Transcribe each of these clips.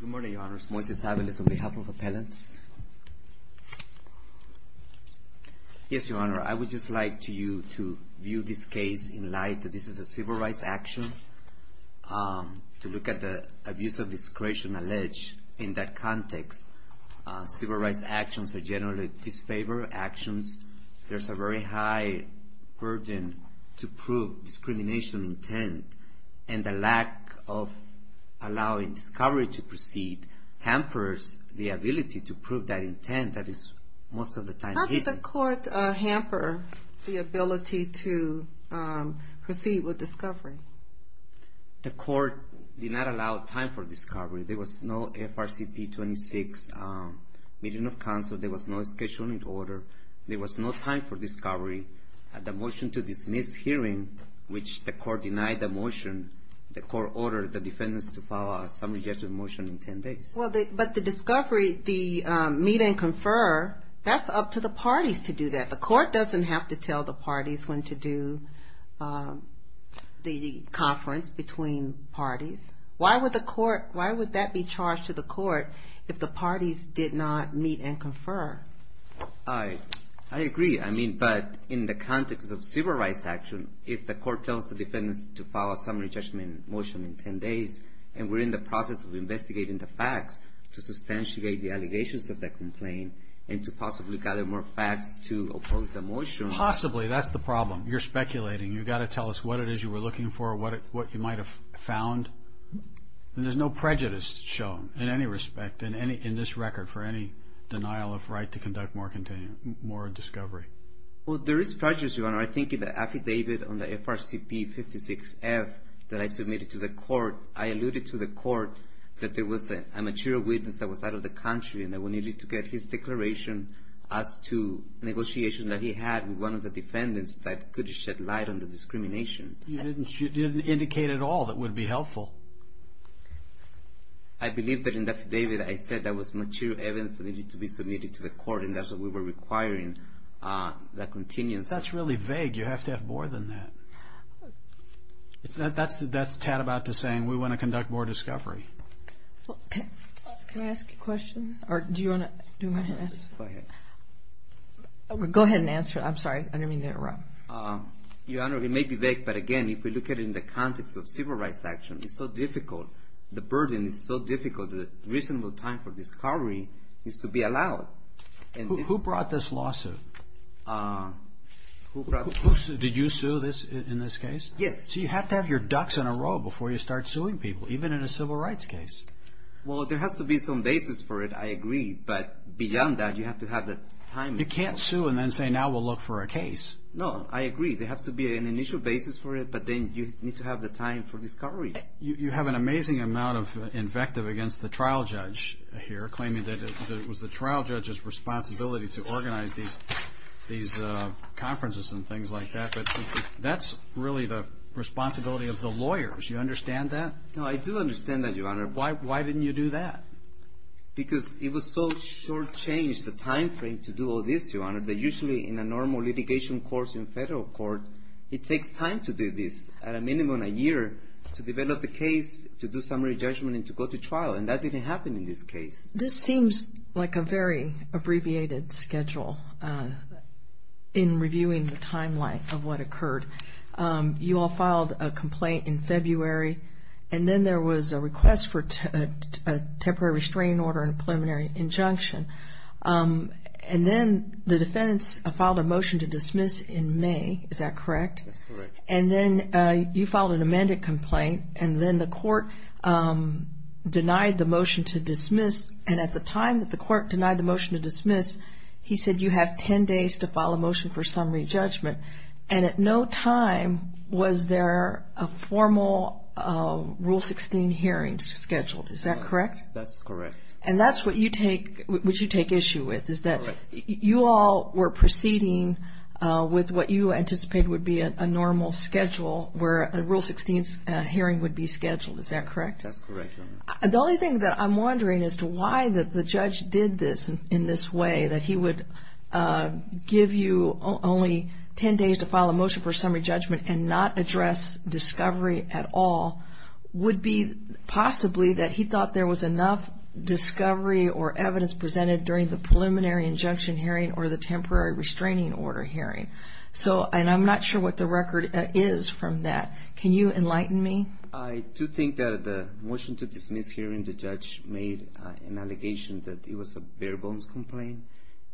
Good morning, Your Honors. Moises Avales on behalf of Appellants. Yes, Your Honor, I would just like you to view this case in light that this is a civil rights action. To look at the abuse of discretion alleged in that context, civil rights actions are generally disfavored actions. There's a very high burden to prove discrimination intent, and the lack of allowing discovery to proceed hampers the ability to prove that intent that is most of the time hidden. How did the court hamper the ability to proceed with discovery? The court did not allow time for discovery. There was no FRCP 26 meeting of counsel. There was no scheduling order. There was no time for discovery. At the motion to dismiss hearing, which the court denied the motion, the court ordered the defendants to file a summary judgment motion in 10 days. But the discovery, the meet and confer, that's up to the parties to do that. The court doesn't have to tell the parties when to do the conference between parties. Why would the court, why would that be charged to the court if the parties did not meet and confer? I agree. I mean, but in the context of civil rights action, if the court tells the defendants to file a summary judgment motion in 10 days, and we're in the process of investigating the facts to substantiate the allegations of the complaint and to possibly gather more facts to oppose the motion. Possibly, that's the problem. You're speculating. You've got to tell us what it is you were looking for, what you might have found. And there's no prejudice shown in any respect, in this record, for any denial of right to conduct more discovery. Well, there is prejudice, Your Honor. I think in the affidavit on the FRCP 56-F that I submitted to the court, I alluded to the court that there was a material witness that was out of the country and that we needed to get his declaration as to negotiation that he had with one of the defendants that could shed light on the discrimination. You didn't indicate at all that would be helpful. I believe that in the affidavit I said there was material evidence that needed to be submitted to the court, and that's what we were requiring. That's really vague. You have to have more than that. That's tat about to saying we want to conduct more discovery. Can I ask a question? Do you want to ask? Go ahead. I didn't answer. I'm sorry. I didn't mean to interrupt. Your Honor, it may be vague, but again, if we look at it in the context of civil rights action, it's so difficult. The burden is so difficult that reasonable time for discovery is to be allowed. Who brought this lawsuit? Did you sue in this case? Yes. So you have to have your ducks in a row before you start suing people, even in a civil rights case. Well, there has to be some basis for it, I agree. But beyond that, you have to have the time. You can't sue and then say now we'll look for a case. No, I agree. There has to be an initial basis for it, but then you need to have the time for discovery. You have an amazing amount of invective against the trial judge here, claiming that it was the trial judge's responsibility to organize these conferences and things like that, but that's really the responsibility of the lawyers. Do you understand that? No, I do understand that, Your Honor. Why didn't you do that? Because it was so short-changed, the time frame to do all this, Your Honor, that usually in a normal litigation course in federal court, it takes time to do this, at a minimum a year, to develop the case, to do summary judgment, and to go to trial, and that didn't happen in this case. This seems like a very abbreviated schedule in reviewing the timeline of what occurred. You all filed a complaint in February, and then there was a request for a temporary restraining order and a preliminary injunction, and then the defendants filed a motion to dismiss in May. Is that correct? That's correct. And then you filed an amended complaint, and then the court denied the motion to dismiss, and at the time that the court denied the motion to dismiss, he said you have ten days to file a motion for summary judgment, and at no time was there a formal Rule 16 hearing scheduled. Is that correct? That's correct. And that's what you take issue with, is that you all were proceeding with what you anticipated would be a normal schedule where a Rule 16 hearing would be scheduled. Is that correct? That's correct, Your Honor. The only thing that I'm wondering as to why the judge did this in this way, that he would give you only ten days to file a motion for summary judgment and not address discovery at all, would be possibly that he thought there was enough discovery or evidence presented during the preliminary injunction hearing or the temporary restraining order hearing. And I'm not sure what the record is from that. Can you enlighten me? I do think that the motion to dismiss hearing the judge made an allegation that it was a bare-bones complaint,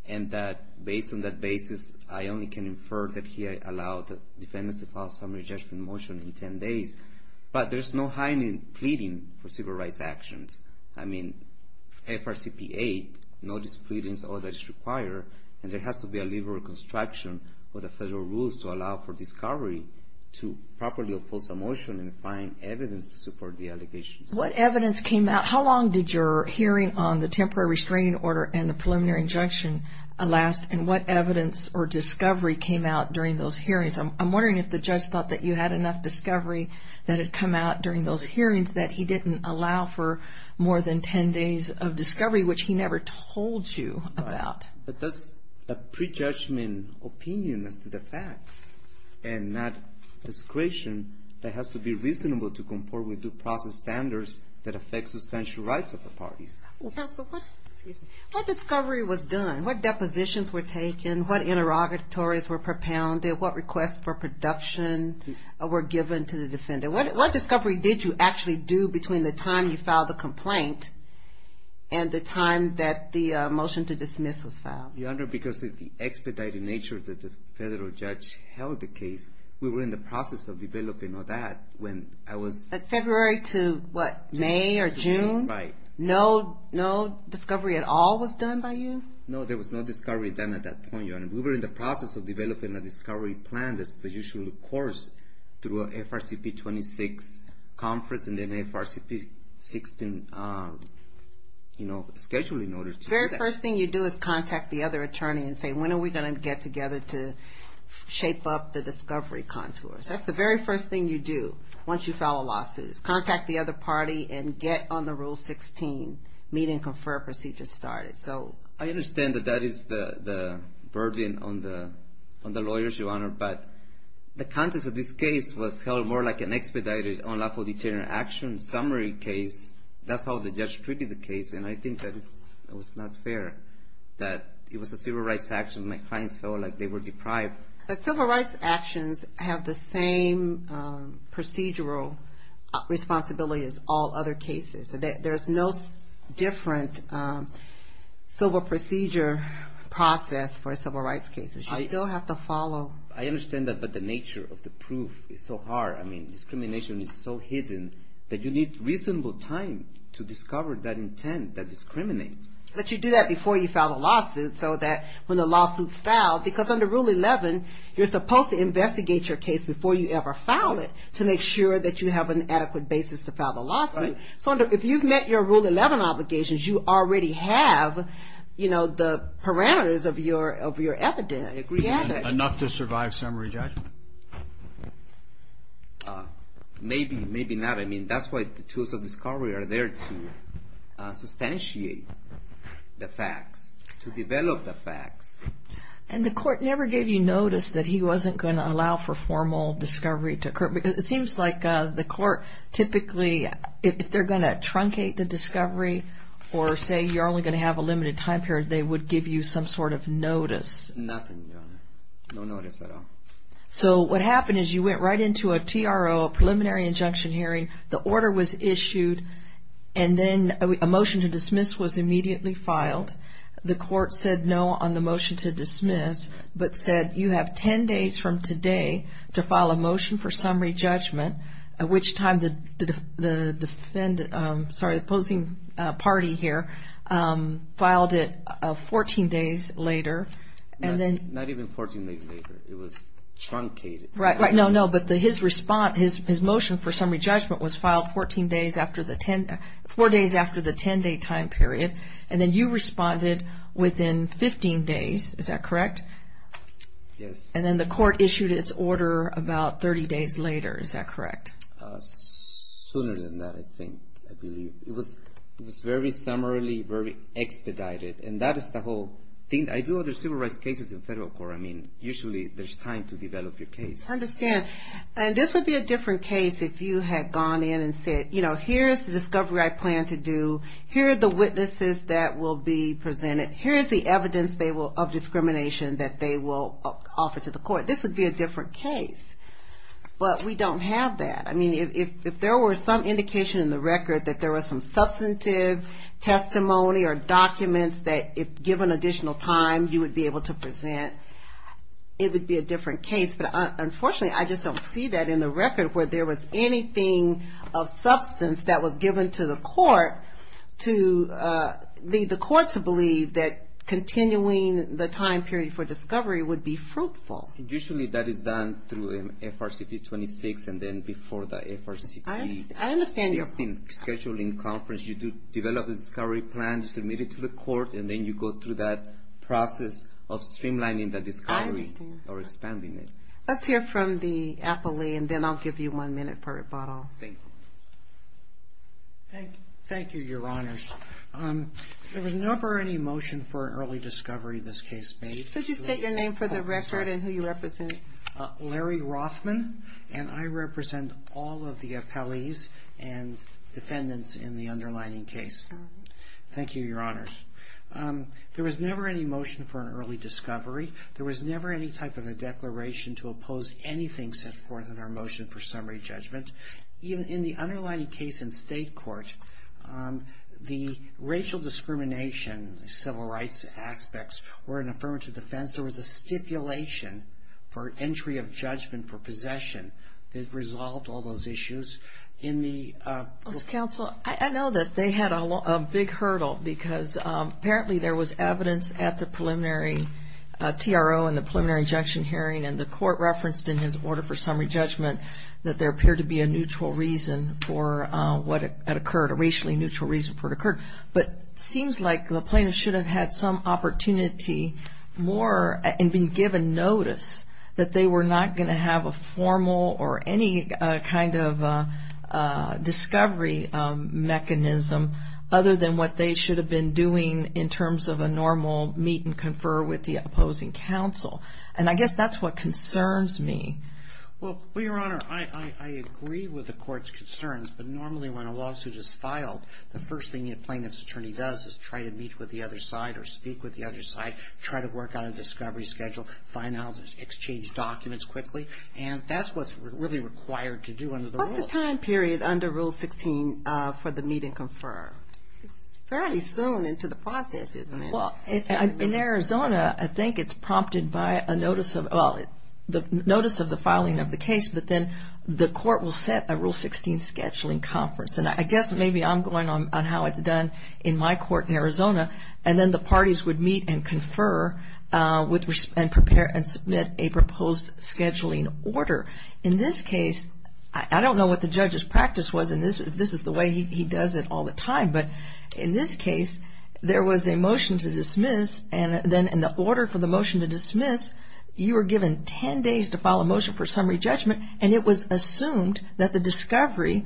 and that based on that basis I only can infer that he allowed the defendants to file a summary judgment motion in ten days. But there's no hiding pleading for civil rights actions. I mean, FRCPA, no displeadings, all that is required, and there has to be a liberal construction for the federal rules to allow for discovery to properly oppose a motion and find evidence to support the allegations. What evidence came out? How long did your hearing on the temporary restraining order and the preliminary injunction last, and what evidence or discovery came out during those hearings? I'm wondering if the judge thought that you had enough discovery that had come out during those hearings that he didn't allow for more than ten days of discovery, which he never told you about. That's a prejudgment opinion as to the facts, and not discretion that has to be reasonable to comport with due process standards that affect substantial rights of the parties. Counsel, what discovery was done? What depositions were taken? What interrogatories were propounded? What requests for production were given to the defendant? What discovery did you actually do between the time you filed the complaint and the time that the motion to dismiss was filed? Your Honor, because of the expedited nature that the federal judge held the case, we were in the process of developing that when I was... But February to what, May or June? Right. No discovery at all was done by you? No, there was no discovery done at that point, Your Honor. We were in the process of developing a discovery plan that's the usual course through an FRCP 26 conference and then FRCP 16 schedule in order to do that. The very first thing you do is contact the other attorney and say, when are we going to get together to shape up the discovery contours? That's the very first thing you do once you file a lawsuit, is contact the other party and get on the Rule 16, meet and confer procedure started. I understand that that is the burden on the lawyers, Your Honor, but the context of this case was held more like an expedited unlawful deterrent action summary case. That's how the judge treated the case, and I think that it was not fair that it was a civil rights action. My clients felt like they were deprived. But civil rights actions have the same procedural responsibility as all other cases. There's no different civil procedure process for civil rights cases. You still have to follow. I understand that, but the nature of the proof is so hard. I mean, discrimination is so hidden that you need reasonable time to discover that intent that discriminates. But you do that before you file a lawsuit so that when the lawsuit's filed, because under Rule 11, you're supposed to investigate your case before you ever file it to make sure that you have an adequate basis to file the lawsuit. So if you've met your Rule 11 obligations, you already have the parameters of your evidence. Enough to survive summary judgment. Maybe, maybe not. I mean, that's why the tools of discovery are there to substantiate the facts, to develop the facts. And the court never gave you notice that he wasn't going to allow for formal discovery to occur? Because it seems like the court typically, if they're going to truncate the discovery or say you're only going to have a limited time period, they would give you some sort of notice. Nothing, Your Honor. No notice at all. So what happened is you went right into a TRO, a preliminary injunction hearing, the order was issued, and then a motion to dismiss was immediately filed. The court said no on the motion to dismiss, but said you have ten days from today to file a motion for summary judgment, at which time the opposing party here filed it 14 days later. Not even 14 days later. It was truncated. Right, right. No, no, but his motion for summary judgment was filed four days after the ten-day time period, and then you responded within 15 days. Is that correct? Yes. And then the court issued its order about 30 days later. Is that correct? Sooner than that, I think, I believe. It was very summarily, very expedited. And that is the whole thing. I do other civil rights cases in federal court. I mean, usually there's time to develop your case. I understand. And this would be a different case if you had gone in and said, you know, here's the discovery I plan to do. Here are the witnesses that will be presented. Here is the evidence of discrimination that they will offer to the court. This would be a different case. But we don't have that. I mean, if there were some indication in the record that there was some substantive testimony or documents that, if given additional time, you would be able to present, it would be a different case. But unfortunately, I just don't see that in the record where there was anything of substance that was given to the court to lead the court to believe that continuing the time period for discovery would be fruitful. Usually that is done through FRCP 26 and then before the FRCP 16 scheduling conference. I understand your point. You plan to submit it to the court, and then you go through that process of streamlining the discovery. I understand. Or expanding it. Let's hear from the appellee, and then I'll give you one minute for rebuttal. Thank you. Thank you, Your Honors. There was never any motion for early discovery in this case made. Could you state your name for the record and who you represent? Larry Rothman, and I represent all of the appellees and defendants in the underlying case. Thank you, Your Honors. There was never any motion for an early discovery. There was never any type of a declaration to oppose anything set forth in our motion for summary judgment. Even in the underlying case in state court, the racial discrimination, civil rights aspects were an affirmative defense. There was a stipulation for entry of judgment for possession that resolved all those issues. Counsel, I know that they had a big hurdle because apparently there was evidence at the preliminary TRO and the preliminary injunction hearing, and the court referenced in his order for summary judgment that there appeared to be a neutral reason for what had occurred, a racially neutral reason for what occurred. But it seems like the plaintiff should have had some opportunity more and been given notice that they were not going to have a formal or any kind of discovery mechanism other than what they should have been doing in terms of a normal meet and confer with the opposing counsel. And I guess that's what concerns me. Well, Your Honor, I agree with the court's concerns, but normally when a lawsuit is filed, the first thing a plaintiff's attorney does is try to meet with the other side or speak with the other side, try to work out a discovery schedule, find out, exchange documents quickly, and that's what's really required to do under the rules. What's the time period under Rule 16 for the meet and confer? It's fairly soon into the process, isn't it? Well, in Arizona, I think it's prompted by a notice of the filing of the case, but then the court will set a Rule 16 scheduling conference, and I guess maybe I'm going on how it's done in my court in Arizona, and then the parties would meet and confer and prepare and submit a proposed scheduling order. In this case, I don't know what the judge's practice was, and this is the way he does it all the time, but in this case, there was a motion to dismiss, and then in the order for the motion to dismiss, you were given 10 days to file a motion for summary judgment, and it was assumed that the discovery,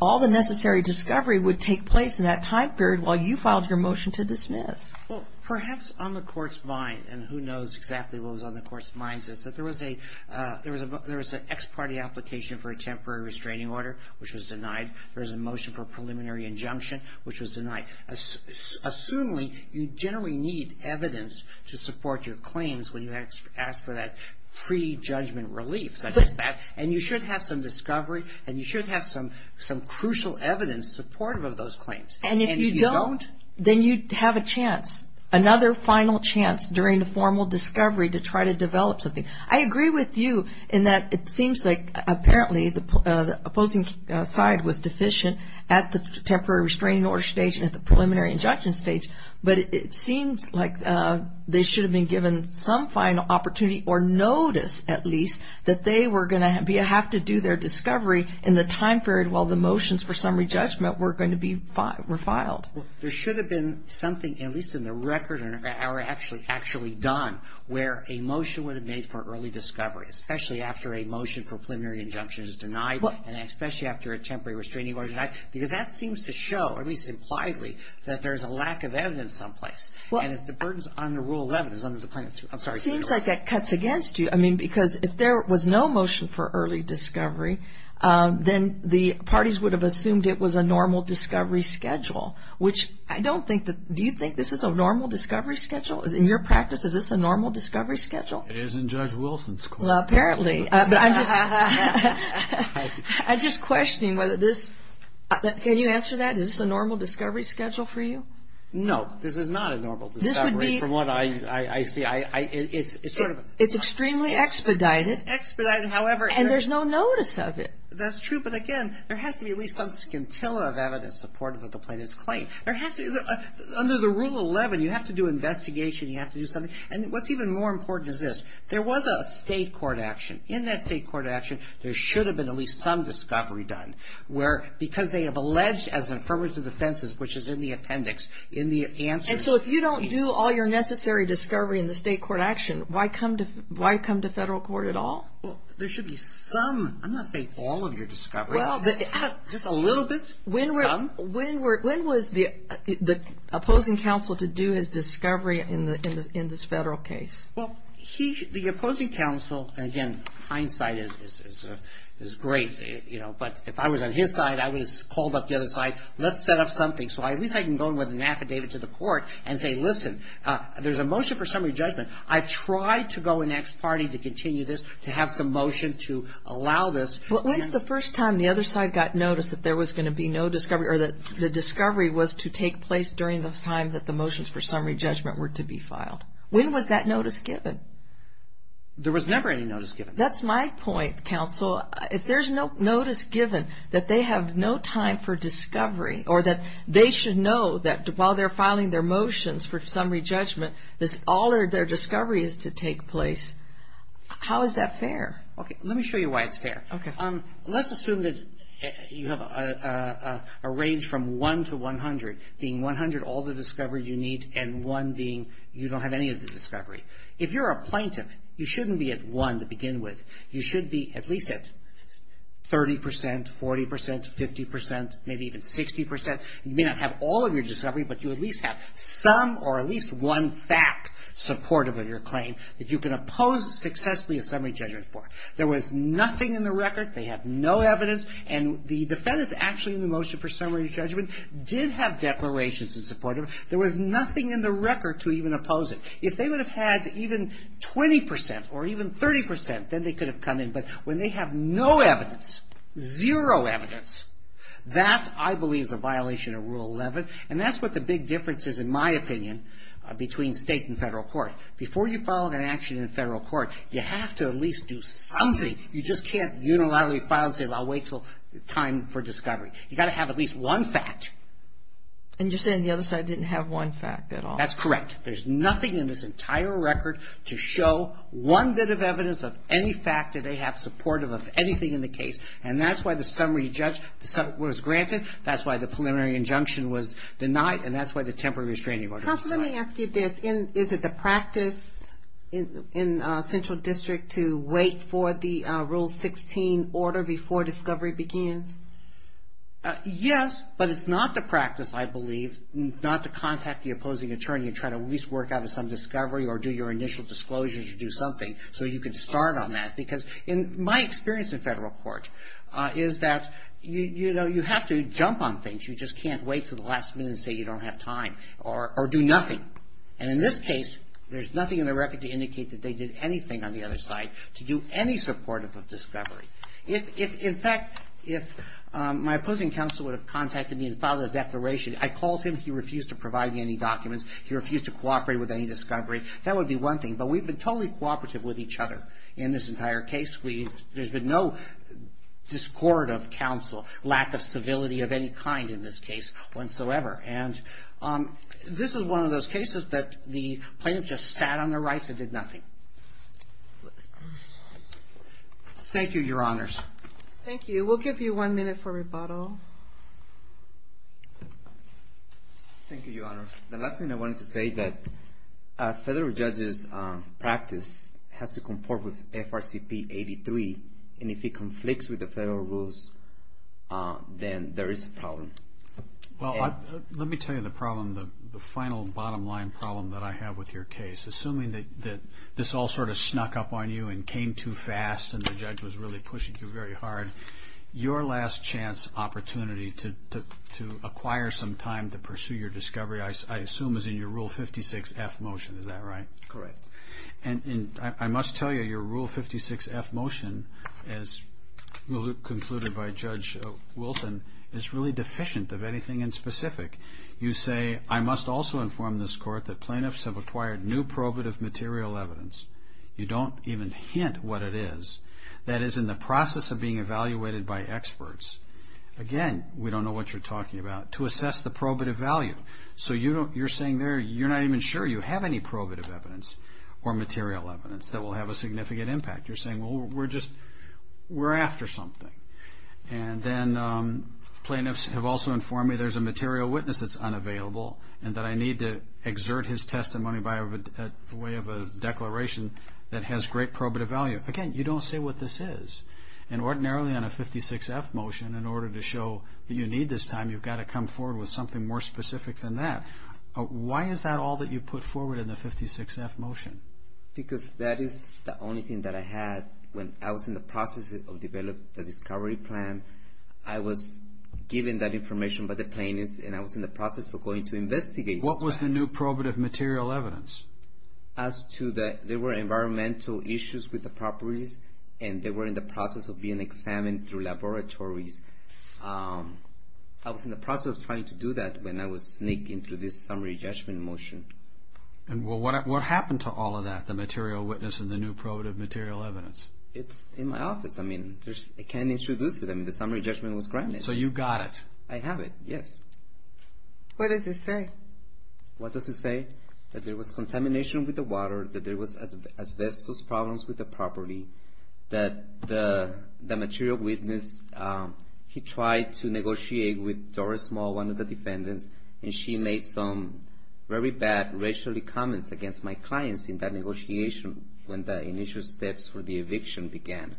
all the necessary discovery, would take place in that time period while you filed your motion to dismiss. Well, perhaps on the court's mind, and who knows exactly what was on the court's minds, is that there was an ex parte application for a temporary restraining order, which was denied. There was a motion for a preliminary injunction, which was denied. Assumingly, you generally need evidence to support your claims when you ask for that pre-judgment relief, and you should have some discovery, and you should have some crucial evidence supportive of those claims. And if you don't, then you have a chance, another final chance during the formal discovery to try to develop something. I agree with you in that it seems like apparently the opposing side was deficient at the temporary restraining order stage and at the preliminary injunction stage, but it seems like they should have been given some final opportunity or notice, at least, that they were going to have to do their discovery in the time period while the motions for summary judgment were going to be refiled. There should have been something, at least in the record, or actually done, where a motion would have made for early discovery, especially after a motion for preliminary injunction is denied, and especially after a temporary restraining order is denied, because that seems to show, at least impliedly, that there's a lack of evidence someplace. And if the burdens on the Rule 11 is under the plaintiff's view. I'm sorry. It seems like that cuts against you. I mean, because if there was no motion for early discovery, then the parties would have assumed it was a normal discovery schedule, which I don't think that, do you think this is a normal discovery schedule? In your practice, is this a normal discovery schedule? It is in Judge Wilson's court. Well, apparently. I'm just questioning whether this, can you answer that? Is this a normal discovery schedule for you? No. This is not a normal discovery from what I see. It's sort of. It's extremely expedited. It's expedited, however. And there's no notice of it. That's true. But, again, there has to be at least some scintilla of evidence supportive of the plaintiff's claim. There has to be. Under the Rule 11, you have to do investigation. You have to do something. And what's even more important is this. There was a state court action. In that state court action, there should have been at least some discovery done. Because they have alleged as an affirmative defense, which is in the appendix, in the answers. And so if you don't do all your necessary discovery in the state court action, why come to federal court at all? Well, there should be some. I'm not saying all of your discovery. Just a little bit? Some? When was the opposing counsel to do his discovery in this federal case? Well, the opposing counsel, again, hindsight is great, you know. But if I was on his side, I would have called up the other side. Let's set up something so at least I can go in with an affidavit to the court and say, listen, there's a motion for summary judgment. I've tried to go in next party to continue this, to have some motion to allow this. Well, when's the first time the other side got notice that there was going to be no discovery or that the discovery was to take place during the time that the motions for summary judgment were to be filed? When was that notice given? There was never any notice given. That's my point, counsel. If there's no notice given that they have no time for discovery or that they should know that while they're filing their motions for summary judgment, all of their discovery is to take place, how is that fair? Okay. Let me show you why it's fair. Okay. Let's assume that you have a range from 1 to 100, being 100 all the discovery you need and 1 being you don't have any of the discovery. If you're a plaintiff, you shouldn't be at 1 to begin with. You should be at least at 30%, 40%, 50%, maybe even 60%. You may not have all of your discovery, but you at least have some or at least one fact supportive of your claim that you can oppose successfully a summary judgment for. There was nothing in the record. They have no evidence. And the defendants actually in the motion for summary judgment did have declarations in support of it. There was nothing in the record to even oppose it. If they would have had even 20% or even 30%, then they could have come in. But when they have no evidence, zero evidence, that I believe is a violation of Rule 11. And that's what the big difference is in my opinion between state and federal court. Before you file an action in federal court, you have to at least do something. You just can't unilaterally file and say I'll wait until time for discovery. You've got to have at least one fact. And you're saying the other side didn't have one fact at all? That's correct. There's nothing in this entire record to show one bit of evidence of any fact that they have supportive of anything in the case. And that's why the summary was granted. That's why the preliminary injunction was denied. And that's why the temporary restraining order was denied. Counsel, let me ask you this. Is it the practice in Central District to wait for the Rule 16 order before discovery begins? Yes, but it's not the practice, I believe, not to contact the opposing attorney and try to at least work out some discovery or do your initial disclosures or do something so you can start on that. Because in my experience in federal court is that, you know, you have to jump on things. You just can't wait until the last minute and say you don't have time or do nothing. And in this case, there's nothing in the record to indicate that they did anything on the other side to do any supportive of discovery. In fact, if my opposing counsel would have contacted me and filed a declaration, I called him, he refused to provide me any documents. He refused to cooperate with any discovery. That would be one thing. But we've been totally cooperative with each other in this entire case. There's been no discord of counsel, lack of civility of any kind in this case whatsoever. And this is one of those cases that the plaintiff just sat on their rights and did nothing. Thank you, Your Honors. Thank you. We'll give you one minute for rebuttal. Thank you, Your Honor. The last thing I wanted to say that a federal judge's practice has to comport with FRCP 83. And if it conflicts with the federal rules, then there is a problem. Well, let me tell you the problem, the final bottom line problem that I have with your case. Assuming that this all sort of snuck up on you and came too fast and the judge was really pushing you very hard, your last chance opportunity to acquire some time to pursue your discovery, I assume, is in your Rule 56-F motion. Is that right? Correct. And I must tell you, your Rule 56-F motion, as concluded by Judge Wilson, is really deficient of anything in specific. You say, I must also inform this Court that plaintiffs have acquired new probative material evidence. You don't even hint what it is. That is, in the process of being evaluated by experts, again, we don't know what you're talking about, to assess the probative value. So you're saying you're not even sure you have any probative evidence or material evidence that will have a significant impact. You're saying, well, we're after something. And then plaintiffs have also informed me there's a material witness that's unavailable and that I need to exert his testimony by way of a declaration that has great probative value. Again, you don't say what this is. And ordinarily on a 56-F motion, in order to show that you need this time, you've got to come forward with something more specific than that. Why is that all that you put forward in the 56-F motion? Because that is the only thing that I had when I was in the process of developing the discovery plan. I was given that information by the plaintiffs, and I was in the process of going to investigate. What was the new probative material evidence? As to that there were environmental issues with the properties, and they were in the process of being examined through laboratories. I was in the process of trying to do that when I was sneaking through this summary judgment motion. And what happened to all of that, the material witness and the new probative material evidence? It's in my office. I mean, I can't introduce it. I mean, the summary judgment was granted. So you got it. I have it, yes. What does it say? What does it say? That there was contamination with the water, that there was asbestos problems with the property, that the material witness, he tried to negotiate with Doris Small, one of the defendants, and she made some very bad, racial comments against my clients in that negotiation when the initial steps for the eviction began.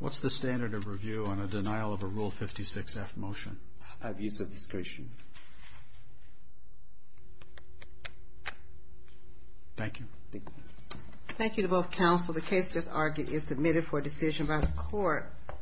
What's the standard of review on a denial of a Rule 56-F motion? Abuse of discretion. Thank you. Thank you. Thank you to both counsel. The case, as argued, is submitted for decision by the court.